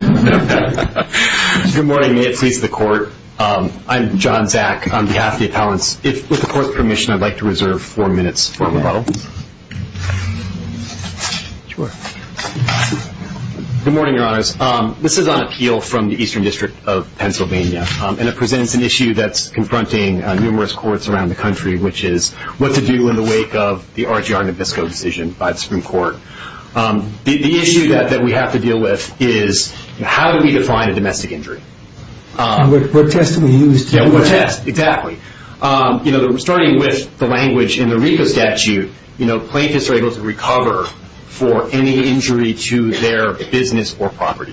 Good morning. May it please the court. I'm John Zack on behalf of the appellants. With the court's permission, I'd like to reserve four minutes for rebuttal. Good morning, your honors. This is on appeal from the Eastern District of Pennsylvania, and it presents an issue that's confronting numerous courts around the country, which is what to do in the wake of the RGR Nabisco decision by the Supreme Court. The issue that we have to deal with is, how do we define a domestic injury? What test do we use? What test, exactly. Starting with the language in the RICO statute, plaintiffs are able to recover for any injury to their business or property.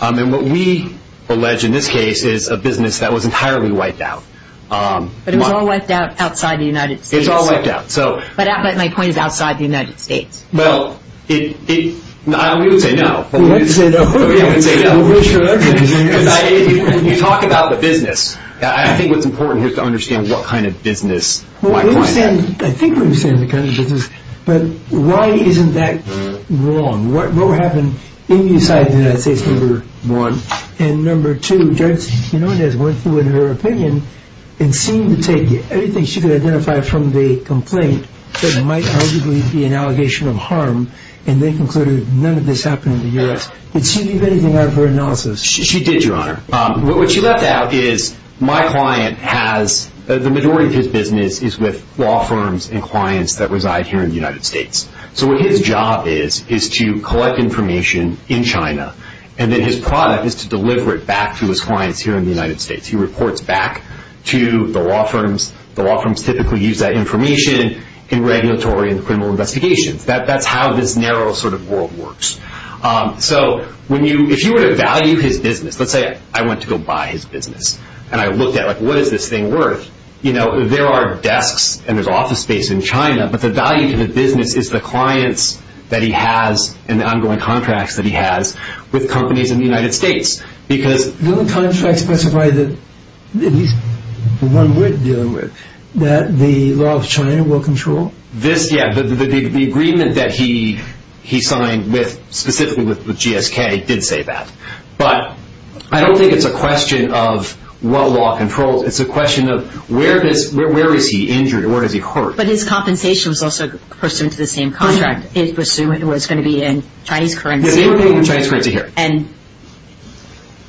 What we allege in this case is a business that was entirely wiped out. But it was all wiped out outside the United States. It was all wiped out. But my point is outside the United States. Well, we would say no. We'd like to say no. We'd like to say no. You talk about the business. I think what's important here is to understand what kind of business. I think we understand the kind of business. But why isn't that wrong? What happened inside the United States, number one. And number two, Judge Quinonez went through in her opinion and seemed to take anything she could identify from the complaint that might arguably be an allegation of harm. And they concluded none of this happened in the U.S. Did she leave anything out of her analysis? She did, Your Honor. What she left out is my client has, the majority of his business is with law firms and clients that reside here in the United States. So what his job is, is to collect information in China. And then his product is to deliver it back to his clients here in the United States. He reports back to the law firms. The law firms typically use that information in regulatory and criminal investigations. That's how this narrow sort of world works. So if you were to value his business, let's say I went to go buy his business. And I looked at what is this thing worth? There are desks and there's office space in China. But the value to the business is the clients that he has and the ongoing contracts that he has with companies in the United States. The only contract specified that, at least the one we're dealing with, that the law of China will control? Yeah, the agreement that he signed specifically with GSK did say that. But I don't think it's a question of what law controls. It's a question of where is he injured or where is he hurt? But his compensation was also pursuant to the same contract. It was going to be in Chinese currency. It was going to be in Chinese currency here. And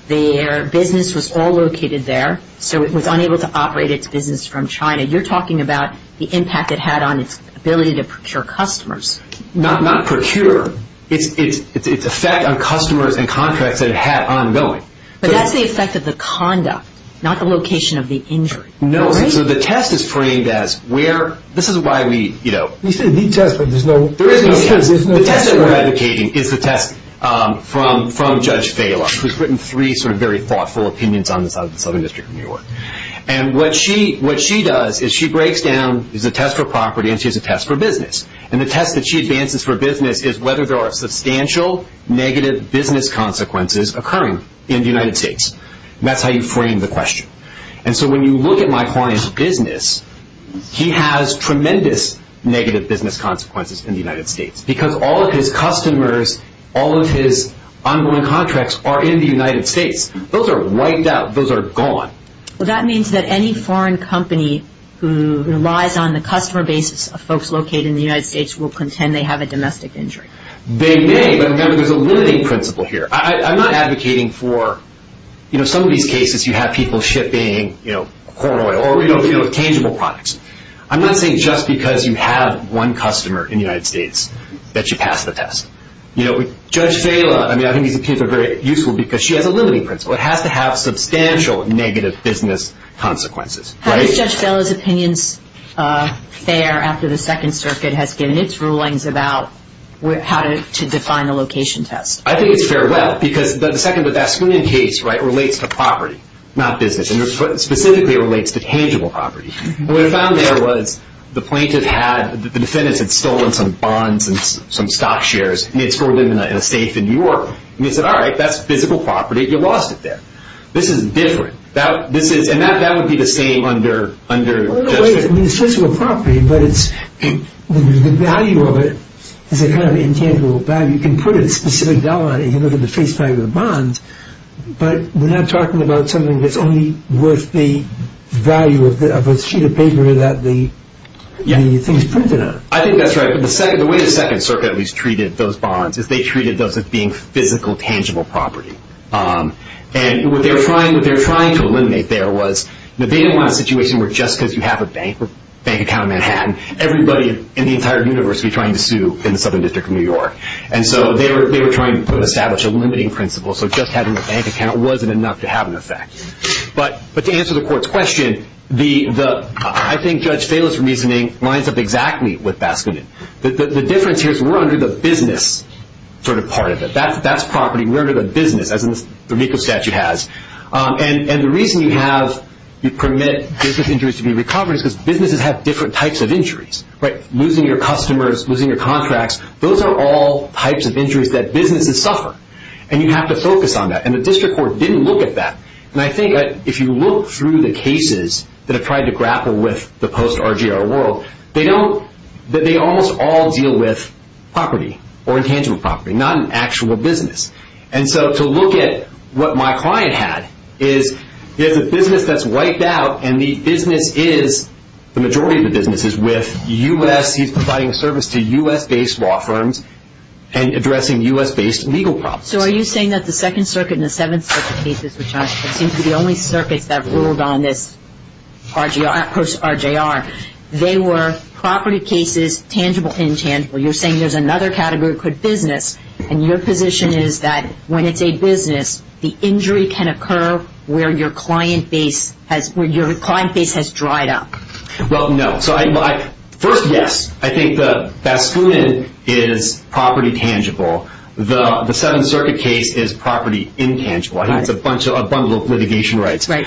their business was all located there. So it was unable to operate its business from China. You're talking about the impact it had on its ability to procure customers. Not procure. It's effect on customers and contracts that it had ongoing. But that's the effect of the conduct, not the location of the injury. No, so the test is framed as where, this is why we, you know. You said the test, but there's no test. The test that we're advocating is the test from Judge Fahler, who's written three sort of very thoughtful opinions on the Southern District of New York. And what she does is she breaks down, there's a test for property and she has a test for business. And the test that she advances for business is whether there are substantial negative business consequences occurring in the United States. And that's how you frame the question. And so when you look at my client's business, he has tremendous negative business consequences in the United States. Because all of his customers, all of his ongoing contracts are in the United States. Those are wiped out. Those are gone. Well that means that any foreign company who relies on the customer basis of folks located in the United States will contend they have a domestic injury. They may, but remember there's a limiting principle here. I'm not advocating for, you know, some of these cases you have people shipping, you know, corn oil or, you know, tangible products. I'm not saying just because you have one customer in the United States that you pass the test. You know, Judge Fahler, I mean I think these opinions are very useful because she has a limiting principle. It has to have substantial negative business consequences. How does Judge Fahler's opinions fare after the Second Circuit has given its rulings about how to define a location test? I think it's fair. Well, because the second, that screening case, right, relates to property, not business. Specifically it relates to tangible property. What I found there was the plaintiff had, the defendants had stolen some bonds and some stock shares. They had stored them in a safe in New York. And they said, all right, that's physical property. You lost it there. This is different. This is, and that would be the same under Judge Fahler. I mean it's physical property, but it's, the value of it is a kind of intangible value. You can put a specific dollar on it, you can look at the face value of the bonds, but we're not talking about something that's only worth the value of a sheet of paper that the thing is printed on. I think that's right. The way the Second Circuit at least treated those bonds is they treated those as being physical, tangible property. And what they're trying to eliminate there was, they didn't want a situation where just because you have a bank, a bank account in Manhattan, everybody in the entire universe would be trying to sue in the Southern District of New York. And so they were trying to establish a limiting principle. So just having a bank account wasn't enough to have an effect. But to answer the court's question, I think Judge Fahler's reasoning lines up exactly with Baskin. The difference here is we're under the business sort of part of it. That's property, we're under the business as the RICO statute has. And the reason you have, you permit business injuries to be recovered is because businesses have different types of injuries. Losing your customers, losing your contracts, those are all types of injuries that businesses suffer. And you have to focus on that. And the District Court didn't look at that. And I think if you look through the cases that have tried to grapple with the post-RGR world, they almost all deal with property or intangible property, not an actual business. And so to look at what my client had is he has a business that's wiped out and the business is, the majority of the business is with U.S., he's providing service to U.S.-based law firms and addressing U.S.-based legal problems. So are you saying that the Second Circuit and the Seventh Circuit cases which seem to be the only circuits that ruled on this post-RGR, they were property cases, tangible, intangible. You're saying there's another category that could business and your position is that when it's a business the injury can occur where your client base has, where your client base has dried up. Well, no. First, yes. I think the Baskunin is property tangible. The Seventh Circuit case is property intangible. It's a bundle of litigation rights. I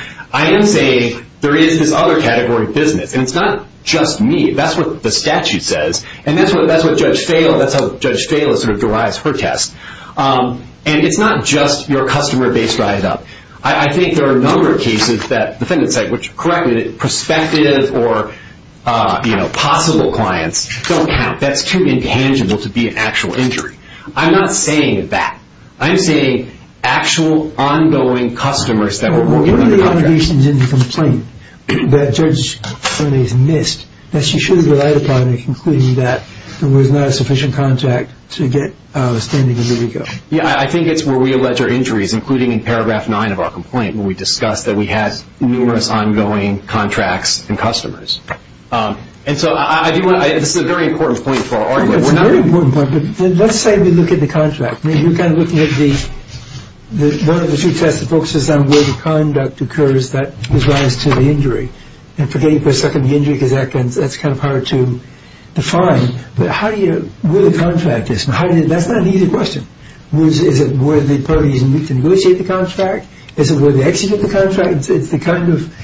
am saying there is this other category of business. And it's not just me. That's what the statute says. And that's what Judge Fala, that's how Judge Fala derives her test. And it's not just your customer base dried up. I think there are a number of cases that defendants say, which, correct me if I'm wrong, prospective or possible clients don't count. That's too intangible to be an actual injury. I'm not saying that. I'm saying actual ongoing customers that were working under contract. What are the allegations in the complaint that Judge Fala has missed that she should have relied upon in concluding that there was not sufficient contact to get a standing individual? Yeah, I think it's where we allege our injuries, including in paragraph 9 of our complaint when we discussed that we had numerous ongoing contracts and customers. And so I do want to, this is a very important point for our argument. It's a very important point, but let's say we look at the contract. You're kind of looking at the one of the two tests that focuses on where the conduct occurs that resides to the injury. And forgetting for a second the injury, because that's kind of hard to define. But how do you, where the contract is, that's not an easy question. Is it where the parties negotiate the contract? Is it where they execute the contract? It's the kind of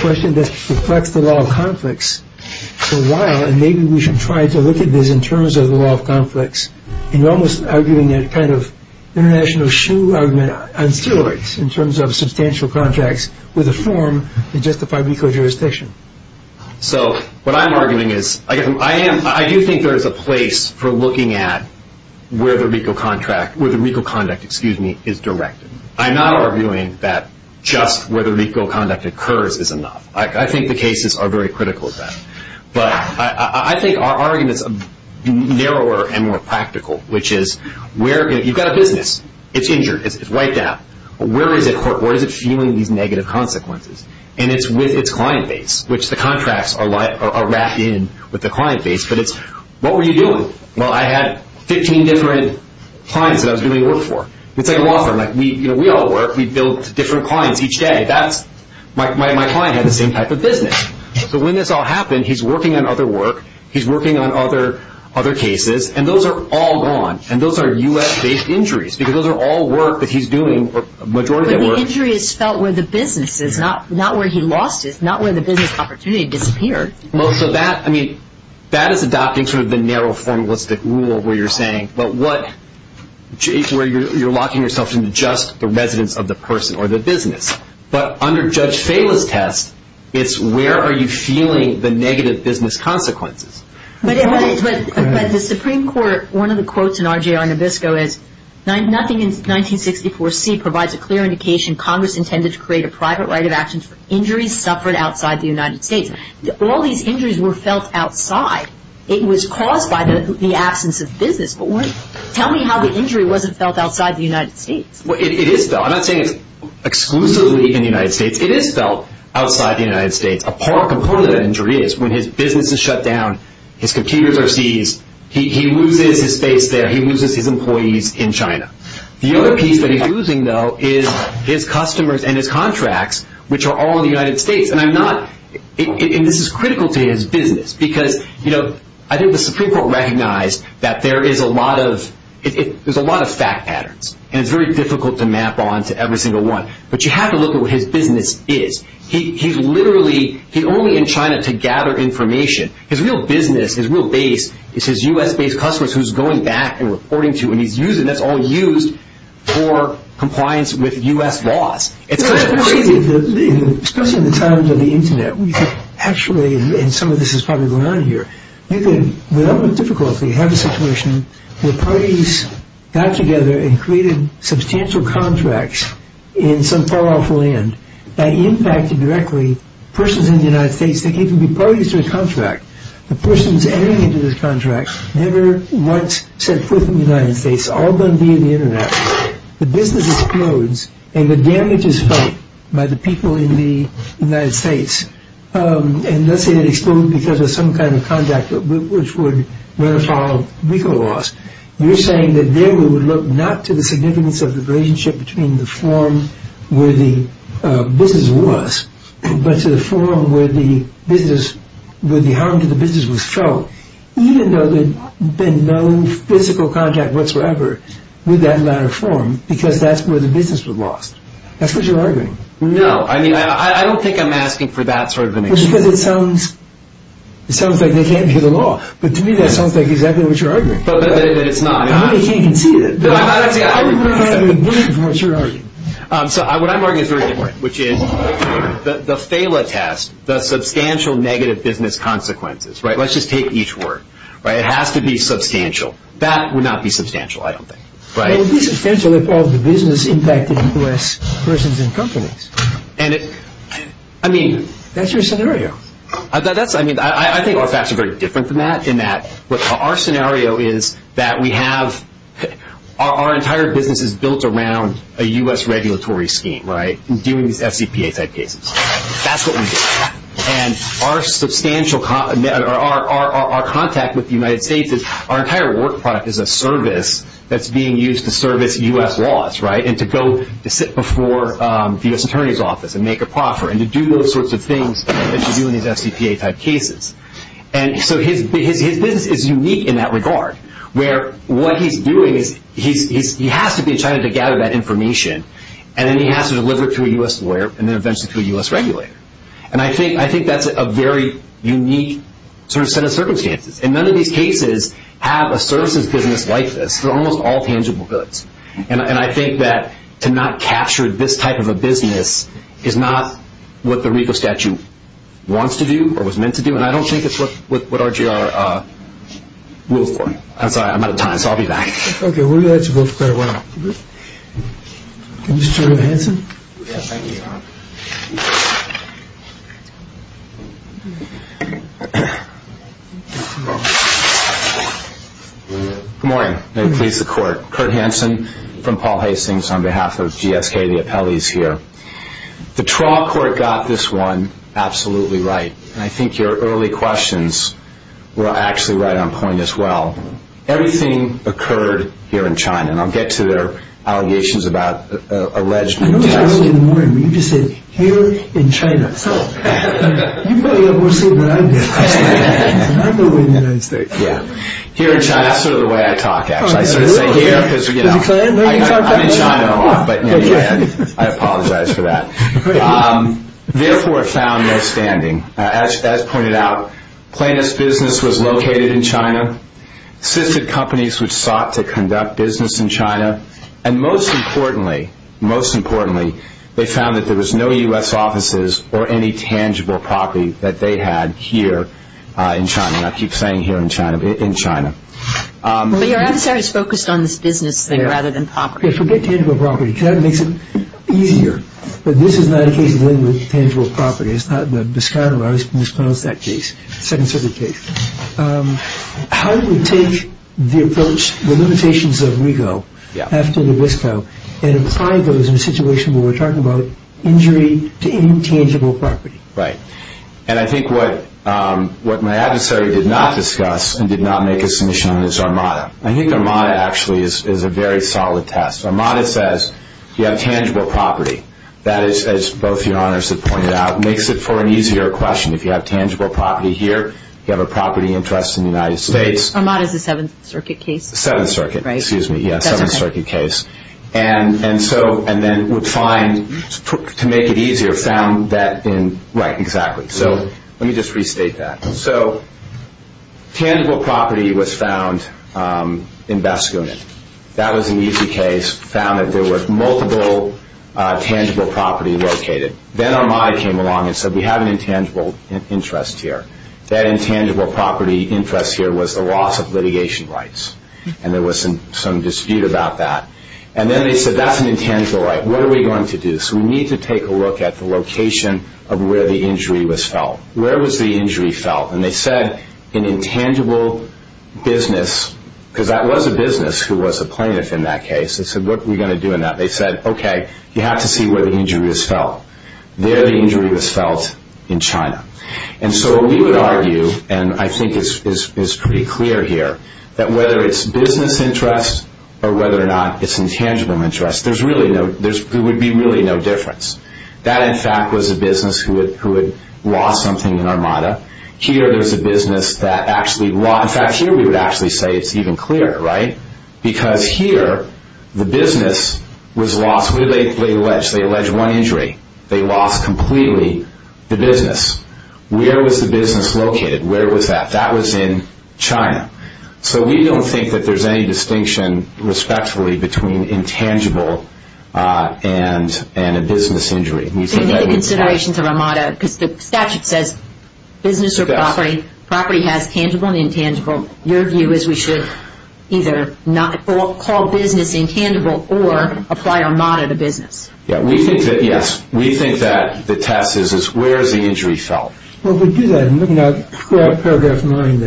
question that reflects the law of conflicts for a while and maybe we should try to look at this in terms of the law of conflicts. And you're almost arguing a kind of international shoe argument on steroids in terms of substantial contracts with a form that justify jurisdiction. So what I'm arguing is, I do think there is a place for looking at where the RICO contract, where the RICO conduct, excuse me, is directed. I'm not arguing that just where the RICO conduct occurs is enough. I think the cases are very critical of that. But I think our argument is narrower and more practical, which is where, you've got a business, it's injured, it's wiped out. Where is it feeling these negative consequences? And it's with its client base, which the contracts are wrapped in with the client base, but it's what were you doing? Well, I had 15 different clients that I was doing work for. It's like a law firm, we all work, we build different clients each day. That's, my client had the same type of business. So when this all happened, he's working on other work, he's working on other cases, and those are all gone. And those are U.S.-based injuries, because those are all work that he's doing. But the injury is felt where the business is, not where he lost it, not where the business opportunity disappeared. Well, so that, I mean, that is adopting sort of the narrow formalistic rule where you're saying, but what, where you're locking yourself into just the residence of the person or the business. But under Judge Falis' test, it's where are you feeling the negative business consequences? But the Supreme Court, one of the quotes in RJR Nabisco is, nothing in 1964C provides a clear indication Congress intended to create a private right of actions for injuries suffered outside the United States. All these injuries were felt outside. It was caused by the absence of business. Tell me how the injury wasn't felt outside the United States. It is felt. I'm not saying it's exclusively in the United States. It is felt outside the United States. A part, component of the injury is when his business is shut down, his computers are seized, he loses his space there, he loses his employees in China. The other piece that he's losing, though, is his customers and his contracts, which are all in the United States. This is critical to his business, because I think the Supreme Court recognized that there is a lot of fact patterns, and it's very difficult to map onto every single one. But you have to look at what his business is. He's literally only in China to gather information. His real business, his real base, is his U.S.-based customers who he's going back and reporting to, and that's all used for compliance with U.S. laws. Especially in the times of the Internet, we could actually, and some of this is probably going on here, you could, without much difficulty, have a situation where parties got together and created substantial contracts in some far-off land that impacted directly persons in the United States that came from the parties to his contract. The persons entering into his contract never once set foot in the United States, all done via the Internet. The business explodes, and the damage is felt by the people in the United States. And let's say it exploded because of some kind of contact which would run afoul of legal laws. You're saying that then we would look not to the significance of the relationship between the form where the business was, but to the form where the business, where the harm to the business was felt, even though there would have been no physical contact whatsoever with that latter form, because that's where the business was lost. That's what you're arguing. No, I mean, I don't think I'm asking for that sort of an explanation. It sounds like they can't hear the law, but to me that sounds like exactly what you're arguing. But it's not. I can't even see it. What you're arguing. What I'm arguing is very different, which is the FALA test, the substantial negative business consequences, let's just take each word. It has to be substantial. That would not be substantial, I don't think. It would be substantial if all the business impacted U.S. persons and companies. That's your scenario. I think our facts are very different than that in that our scenario is that we have our entire business is built around a U.S. regulatory scheme doing these FCPA type cases. That's what we do. Our substantial our contact with the United States is our entire work product is a service that's being used to service U.S. laws. To sit before the U.S. Attorney's Office and make a proffer and to do those sorts of things that you do in these FCPA type cases. His business is unique in that regard where what he's doing is he has to be trying to gather that information and then he has to deliver it to a U.S. lawyer and then eventually to a U.S. regulator. I think that's a very unique set of circumstances. None of these cases have a services business like this. They're almost all tangible goods. I think that to not capture this type of a business is not what the RICO statute wants to do or was meant to do. I don't think it's what RGR will form. I'm sorry, I'm out of time. I'll be back. Good morning. May it please the court. Kurt Hansen from Paul Hastings on behalf of GSK, the appellees here. The Traw Court got this one absolutely right. I think your early questions were actually right on point as well. Everything occurred here in China and I'll get to their allegations about alleged I noticed early in the morning when you just said here in China. You probably have more say than I do. Here in China, that's sort of the way I talk actually. I sort of say here because I'm in China a lot but I apologize for that. Therefore found no standing. As pointed out, Planus Business was located in China. Assisted companies which sought to conduct business in China and most importantly they found that there was no U.S. offices or any tangible property that they had here in China. I keep saying here in China but in China. But your adversary is focused on this business thing rather than property. Forget tangible property because that makes it easier. But this is not a case of dealing with tangible property. It's not the discount of that case, second circuit case. How do you take the approach, the limitations of Rigo after Nabisco and apply those in a situation where we're talking about injury to intangible property. And I think what my adversary did not discuss and did not make a submission on is Armada. I think Armada actually is a very solid test. Armada says you have tangible property. That is as both your honors have pointed out makes it for an easier question. If you have tangible property here, you have a property interest in the United States. Armada is a seventh circuit case. Seventh circuit, excuse me. And then would find, to make it easier, found that in right, exactly. So let me just restate that. So tangible property was found in Baskunet. That was an easy case. Found that there were multiple tangible property located. Then Armada came along and said we have an intangible interest here. That intangible property interest here was the loss of litigation rights. And there was some dispute about that. And then they said that's an intangible right. What are we going to do? So we need to take a look at the location of where the injury was felt. Where was the injury felt? And they said an intangible business because that was a business who was a plaintiff in that case. They said what are we going to do in that? They said okay, you have to see where the injury was felt. There the injury was felt in China. And so we would argue and I think it's pretty clear here that whether it's business interest or whether or not it's intangible interest, there's really no there would be really no difference. That in fact was a business who had lost something in Armada. Here there's a business that actually lost. In fact here we would actually say it's even clearer, right? Because here the business was lost. They allege one injury. They lost completely the business. Where was the business located? Where was that? That was in China. So we don't think that there's any distinction respectfully between intangible and a business injury. And the considerations of Armada, because the statute says business or property. Property has tangible and intangible. Your view is we should either not call business intangible or apply Armada to business. We think that, yes, we think that the test is where is the injury felt? Well if we do that, I'm looking at paragraph 9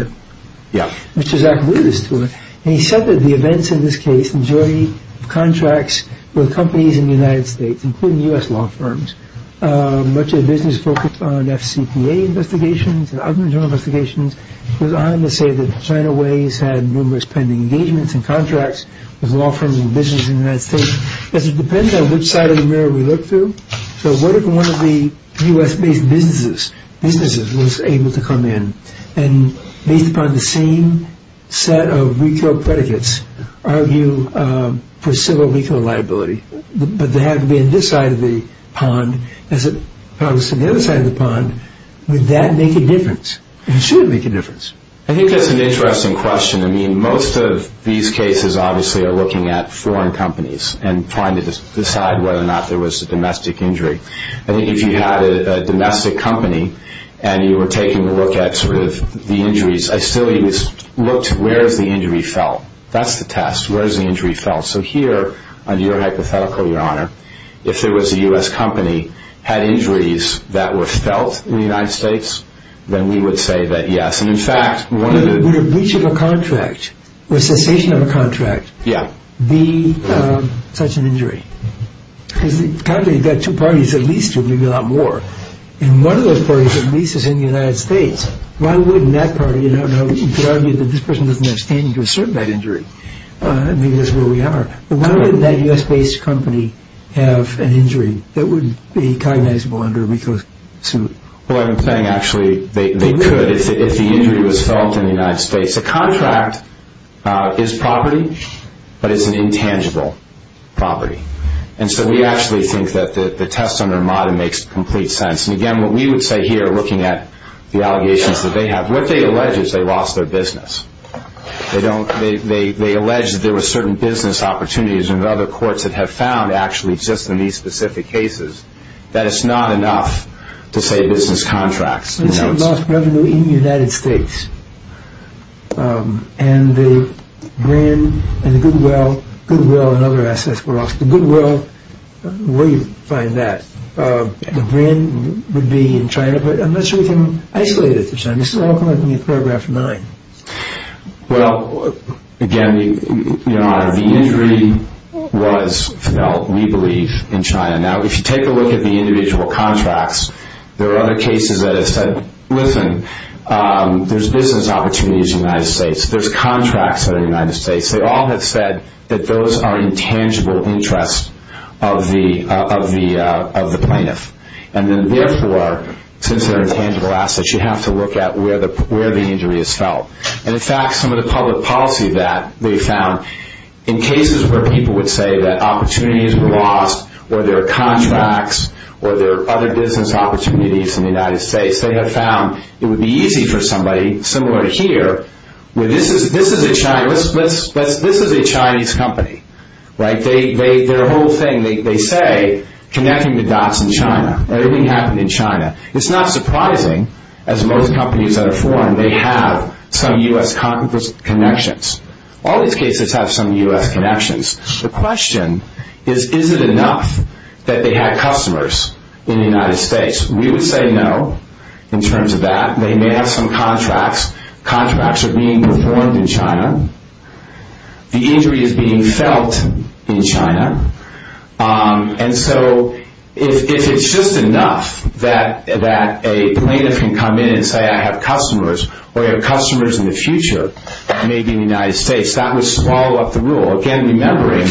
which is accurate as to it. And he said that the events in this case, majority of contracts were companies in the United States, including U.S. law firms. Much of the business focused on F.C.P.A. investigations and other investigations. It goes on to say that China Ways had numerous pending engagements and contracts with law firms and businesses in the United States. Does it depend on which side of the mirror we look through? So what if one of the U.S. based businesses was able to come in and based upon the same set of RICO predicates argue for civil RICO liability. But they have to be on this side of the pond as opposed to the other side of the pond. Would that make a difference? It should make a difference. I think that's an interesting question. I mean most of these cases obviously are looking at foreign companies and trying to decide whether or not there was a domestic injury. I think if you had a domestic company and you were taking a look at sort of the injuries, I still looked, where is the injury felt? That's the test. Where is the injury felt? So here, under your hypothetical, Your Honor, if there was a U.S. company had injuries that were felt in the United States, then we would say that yes. And in fact, Would a breach of a contract or a cessation of a contract be such an injury? You've got two parties, at least, maybe a lot more. And one of those parties at least is in the United States. Why wouldn't that party, you could argue that this person doesn't have standing to assert that injury. Maybe that's where we are. But why wouldn't that U.S. based company have an injury that would be cognizable under a RICO suit? Well, I'm implying actually they could if the injury was felt in the United States. A contract is property, but it's an intangible property. And so we actually think that the test under Modem makes complete sense. And again, what we would say here, looking at the allegations that they have, what they allege is they lost their business. They don't, they allege that there were certain business opportunities in other courts that have found actually just in these specific cases that it's not enough to say business contracts. They lost revenue in the United States. And the Brin and the Goodwill, Goodwill and other assets were lost. The Goodwill, where do you find that? The Brin would be in China, but I'm not sure we can isolate it from China. This is all coming from paragraph 9. Well, again, Your Honor, the injury was felt, we believe, in China. Now, if you take a look at the individual contracts, there are other cases that have said, listen, there's business opportunities in the United States. There's contracts in the United States. They all have said that those are intangible interests of the plaintiff. And then therefore, since they're intangible assets, you have to look at where the injury is felt. And in fact, some of the public policy that they found, in cases where people would say that opportunities were lost, or there are contracts, or there are other business opportunities in the United States, they have found it would be easy for somebody, similar to here, where this is a Chinese company. Their whole thing, they say, connecting the dots in China. Everything happened in China. It's not surprising, as most companies that are foreign, they have some U.S. connections. All these cases have some U.S. connections. The question is, is it enough that they have customers in the United States? We would say no, in terms of that. They may have some contracts. Contracts are being performed in China. The injury is being felt in China. And so, if it's just enough that a plaintiff can come in and say, I have customers, or I have customers in the future, maybe in the United States, that would swallow up the rule. Again, remembering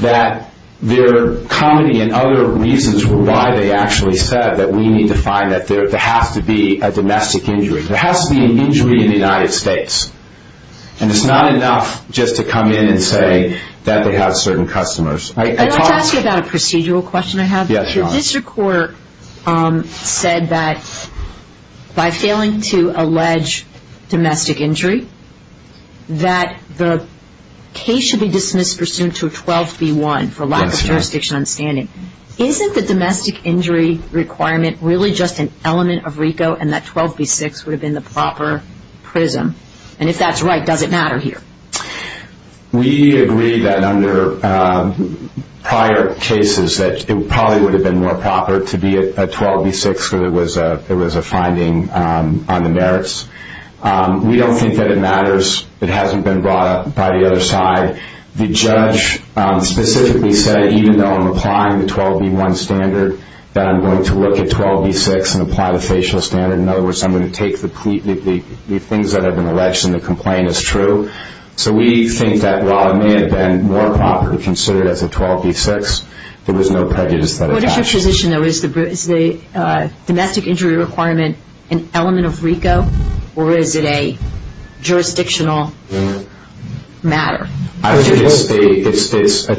that their comedy and other reasons were why they actually said that we need to find that there has to be a domestic injury. There has to be an injury in the United States. And it's not enough just to come in and say that they have certain customers. I'd like to ask you about a procedural question I have. Your district court said that by failing to allege domestic injury, that the case should be dismissed pursuant to a 12B1 for lack of jurisdiction and understanding. Isn't the domestic injury requirement really just an element of RICO, and that 12B6 would have been the proper prism? And if that's right, does it matter here? We agree that under prior cases that it probably would have been more proper to be a 12B6 because it was a finding on the merits. We don't think that it matters. It hasn't been brought up by the other side. The judge specifically said even though I'm applying the 12B1 standard, that I'm going to look at 12B6 and apply the facial standard. In other words, I'm going to take the things that have been alleged, and the complaint is true. So we think that while it may have been more proper to consider it as a 12B6, there was no prejudice. What is your position, though? Is the domestic injury requirement an element of jurisdictional matter? It's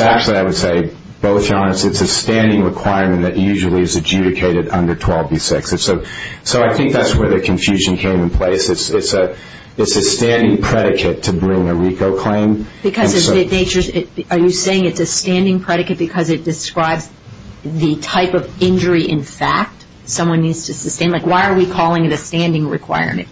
actually, I would say, both Your Honors, it's a standing requirement that usually is adjudicated under 12B6. So I think that's where the confusion came in place. It's a standing predicate to bring a RICO claim. Are you saying it's a standing predicate because it describes the type of injury in fact someone needs to sustain? Why are we calling it a standing requirement?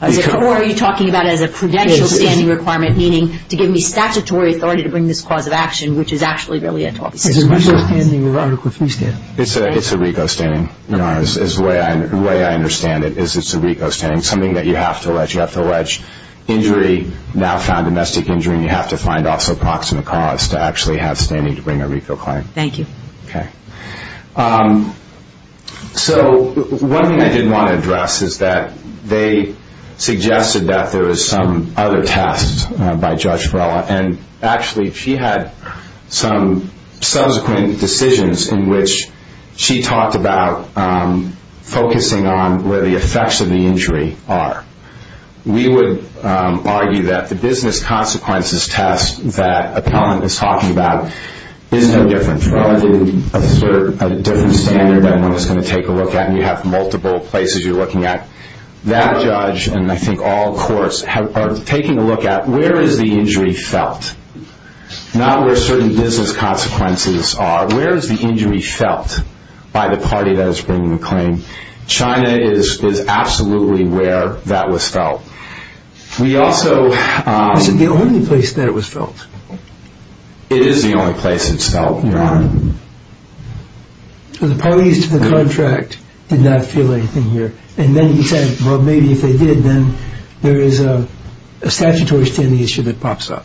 Or are you talking about it as a credential standing requirement, meaning to give me statutory authority to bring this cause of action, which is actually really a 12B6? It's a RICO standing. Your Honors, the way I understand it is it's a RICO standing, something that you have to allege. You have to allege injury, now found domestic injury, and you have to find also proximate cause to actually have standing to bring a RICO claim. Thank you. So one thing I did want to address is that they suggested that there was some other tests by Judge Vrela, and actually she had some subsequent decisions in which she talked about focusing on where the effects of the injury are. We would argue that the business consequences test that Appellant is talking about is no different relative to a different standard that everyone is going to take a look at, and you have multiple places you're looking at. That judge, and I think all courts, are taking a look at where is the injury felt? Not where certain business consequences are. Where is the injury felt by the party that is bringing the claim? China is absolutely where that was felt. We that it was felt? It is the only place it's felt, Your Honor. The parties to the contract did not feel anything here, and then he said, well, maybe if they did, then there is a statutory standing issue that pops up.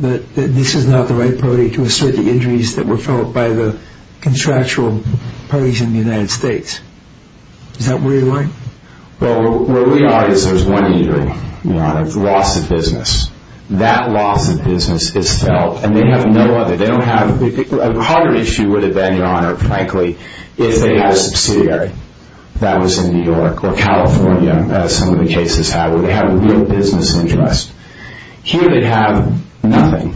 That this is not the right party to assert the injuries that were felt by the contractual parties in the United States. Is that where you're going? Well, where we are is there's one injury, Your Honor. It's loss of business. That loss of business is felt, and they have no other. They don't have a harder issue would have been, Your Honor, frankly, if they had a subsidiary that was in New York or California, as some of the cases have, where they have a real business interest. Here they have nothing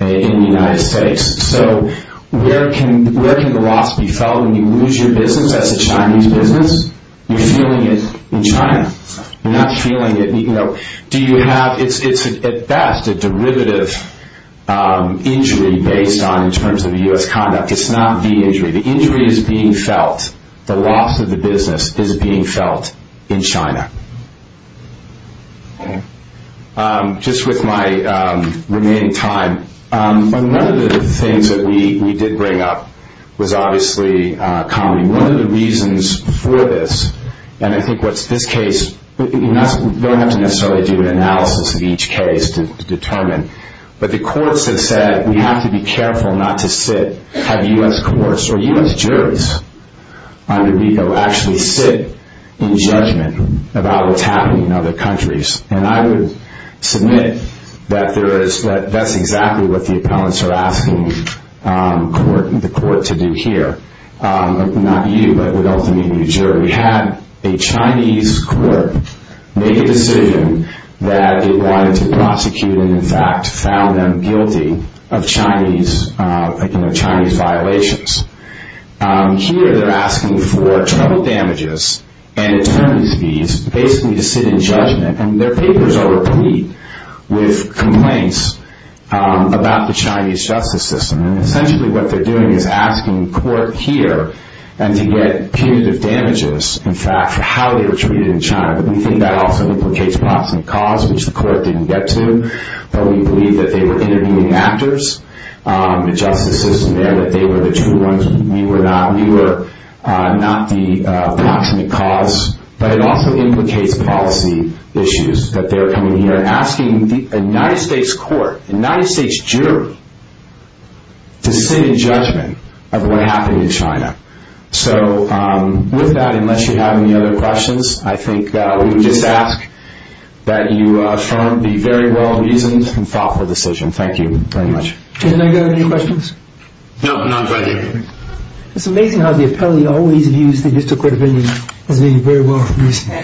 in the United States. So where can the loss be felt when you lose your business as a Chinese business? You're feeling it in China. You're not feeling it, you know. Do you have, it's at best a derivative injury based on in terms of U.S. conduct. It's not the injury. The injury is being felt. The loss of the business is being felt in China. Just with my remaining time, one of the things that we did bring up was obviously comedy. One of the reasons for this, and I think what's this case, you don't have to necessarily do an analysis of each case to determine, but the courts have said we have to be careful not to sit have U.S. courts or U.S. juries under NICO actually sit in judgment about what's happening in other countries. And I would submit that there is, that that's exactly what the appellants are asking the court to do here. Not you, but ultimately the jury. Have a Chinese court make a decision that it wanted to prosecute and in fact found them guilty of Chinese violations. Here they're asking for trouble damages and basically to sit in judgment and their papers are replete with complaints about the Chinese justice system. Essentially what they're doing is asking court here to get punitive damages in fact for how they were treated in China but we think that also implicates proximate cause, which the court didn't get to but we believe that they were interviewing actors, the justice system there, that they were the true ones we were not, we were not the proximate cause but it also implicates policy issues that they're coming here asking a United States court a United States jury to sit in judgment of what happened in China. So with that unless you have any other questions I think that we would just ask that you affirm the very well reasoned and thoughtful decision. Thank you very much. No, not at all. It's amazing how the appellate always views the district court opinion as being very well reasoned.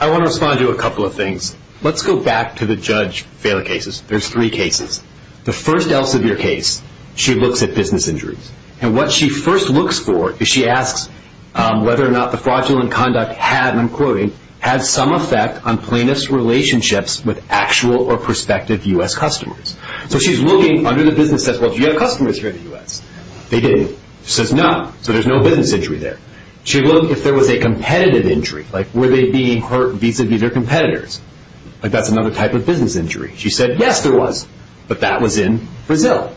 I want to respond to a couple of things. Let's go back to the judge failure cases. There's three cases. The first Elsevier case she looks at business injuries and what she first looks for is she asks whether or not the fraudulent conduct had, and I'm quoting, had some effect on plaintiff's relationships with actual or prospective U.S. customers. So she's looking under the business says, well do you have customers here in the U.S.? They didn't. She says no. So there's no business injury there. She looked if there was a competitive injury, like were they being hurt vis-a-vis their competitors? That's another type of business injury. She said yes there was, but that was in Brazil.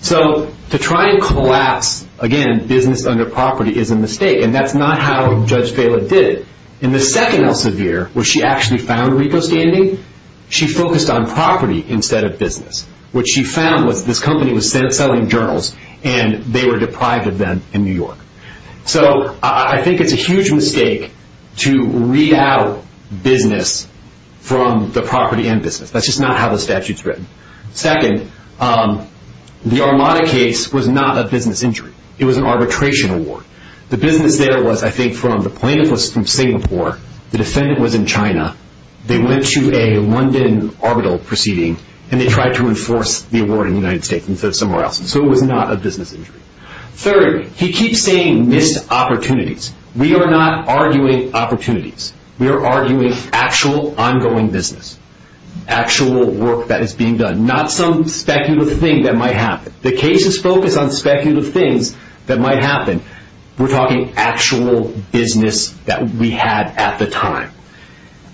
So to try and collapse again business under property is a mistake and that's not how Judge Vela did it. In the second Elsevier where she actually found Rico standing she focused on property instead of business. What she found was this company was selling journals and they were deprived of them in New York. So I think it's a huge mistake to read out business from the property and business. That's just not how the statute's written. Second, the Armada case was not a business injury. It was an arbitration award. The business there was, I think, from the plaintiff was from Singapore, the defendant was in China, they went to a London arbitral proceeding and they tried to enforce the award in the United States instead of somewhere else. So it was not a business injury. Third, he keeps saying missed opportunities. We are not arguing opportunities. We are arguing actual ongoing business. Actual work that is being done. Not some speculative thing that might happen. The case is focused on speculative things that might happen. We're talking actual business that we had at the time.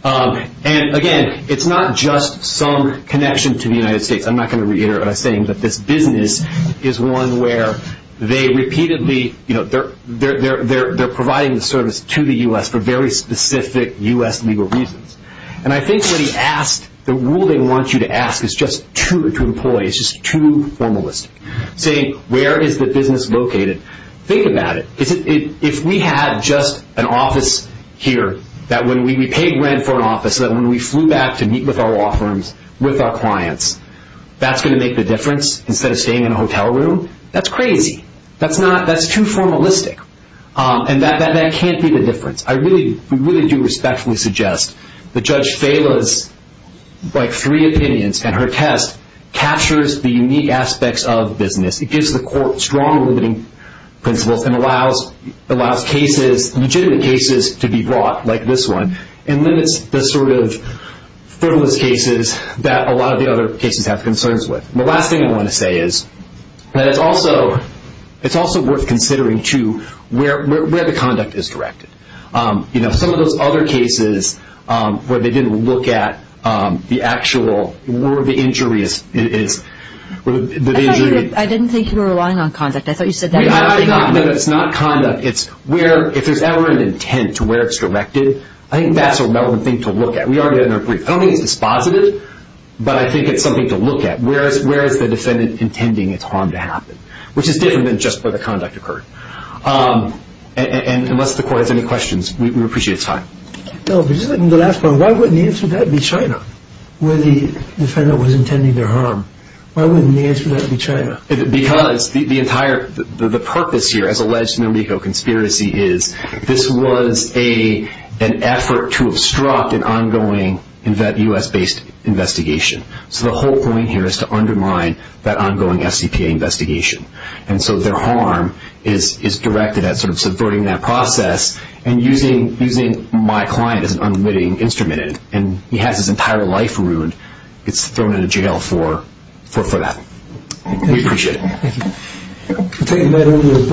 And again, it's not just some connection to the United States. I'm not going to reiterate what I'm saying, but this business is one where they repeatedly they're providing the service to the U.S. for very specific U.S. legal reasons. And I think what he asked, the rule they want you to ask is just to employees, just too formalistic. Saying, where is the business located? Think about it. If we had just an office here, that when we paid rent for an office, that when we flew back to meet with our law firms, with our clients, that's going to make the difference instead of staying in a hotel room? That's crazy. That's too formalistic. And that can't be the difference. I really do respectfully suggest that Judge Fela's three opinions and her test captures the unique aspects of business. It gives the court strong limiting principles and allows legitimate cases to be brought, like this one, and limits the sort of frivolous cases that a lot of the other cases have concerns with. The last thing I want to say is that it's also worth considering, too, where the conduct is directed. Some of those other cases where they didn't look at the actual, where the injury is. I didn't think you were relying on conduct. I thought you said that. It's not conduct. It's where, if there's ever an intent to where it's directed, I think that's a relevant thing to look at. I don't think it's dispositive, but I think it's something to look at. Where is the defendant intending its harm to happen? Which is different than just where the conduct occurred. Unless the court has any questions, we would appreciate your time. Why wouldn't the answer to that be China? Where the defendant was intending their harm. Why wouldn't the answer to that be China? Because the purpose here, as alleged in the Rico conspiracy, is this was an effort to obstruct an ongoing U.S. based investigation. So the whole point here is to undermine that ongoing S.C.P.A. investigation. And so their harm is directed at subverting that process and using my client as an unwitting instrument and he has his entire life ruined, gets thrown into jail for that. We appreciate it.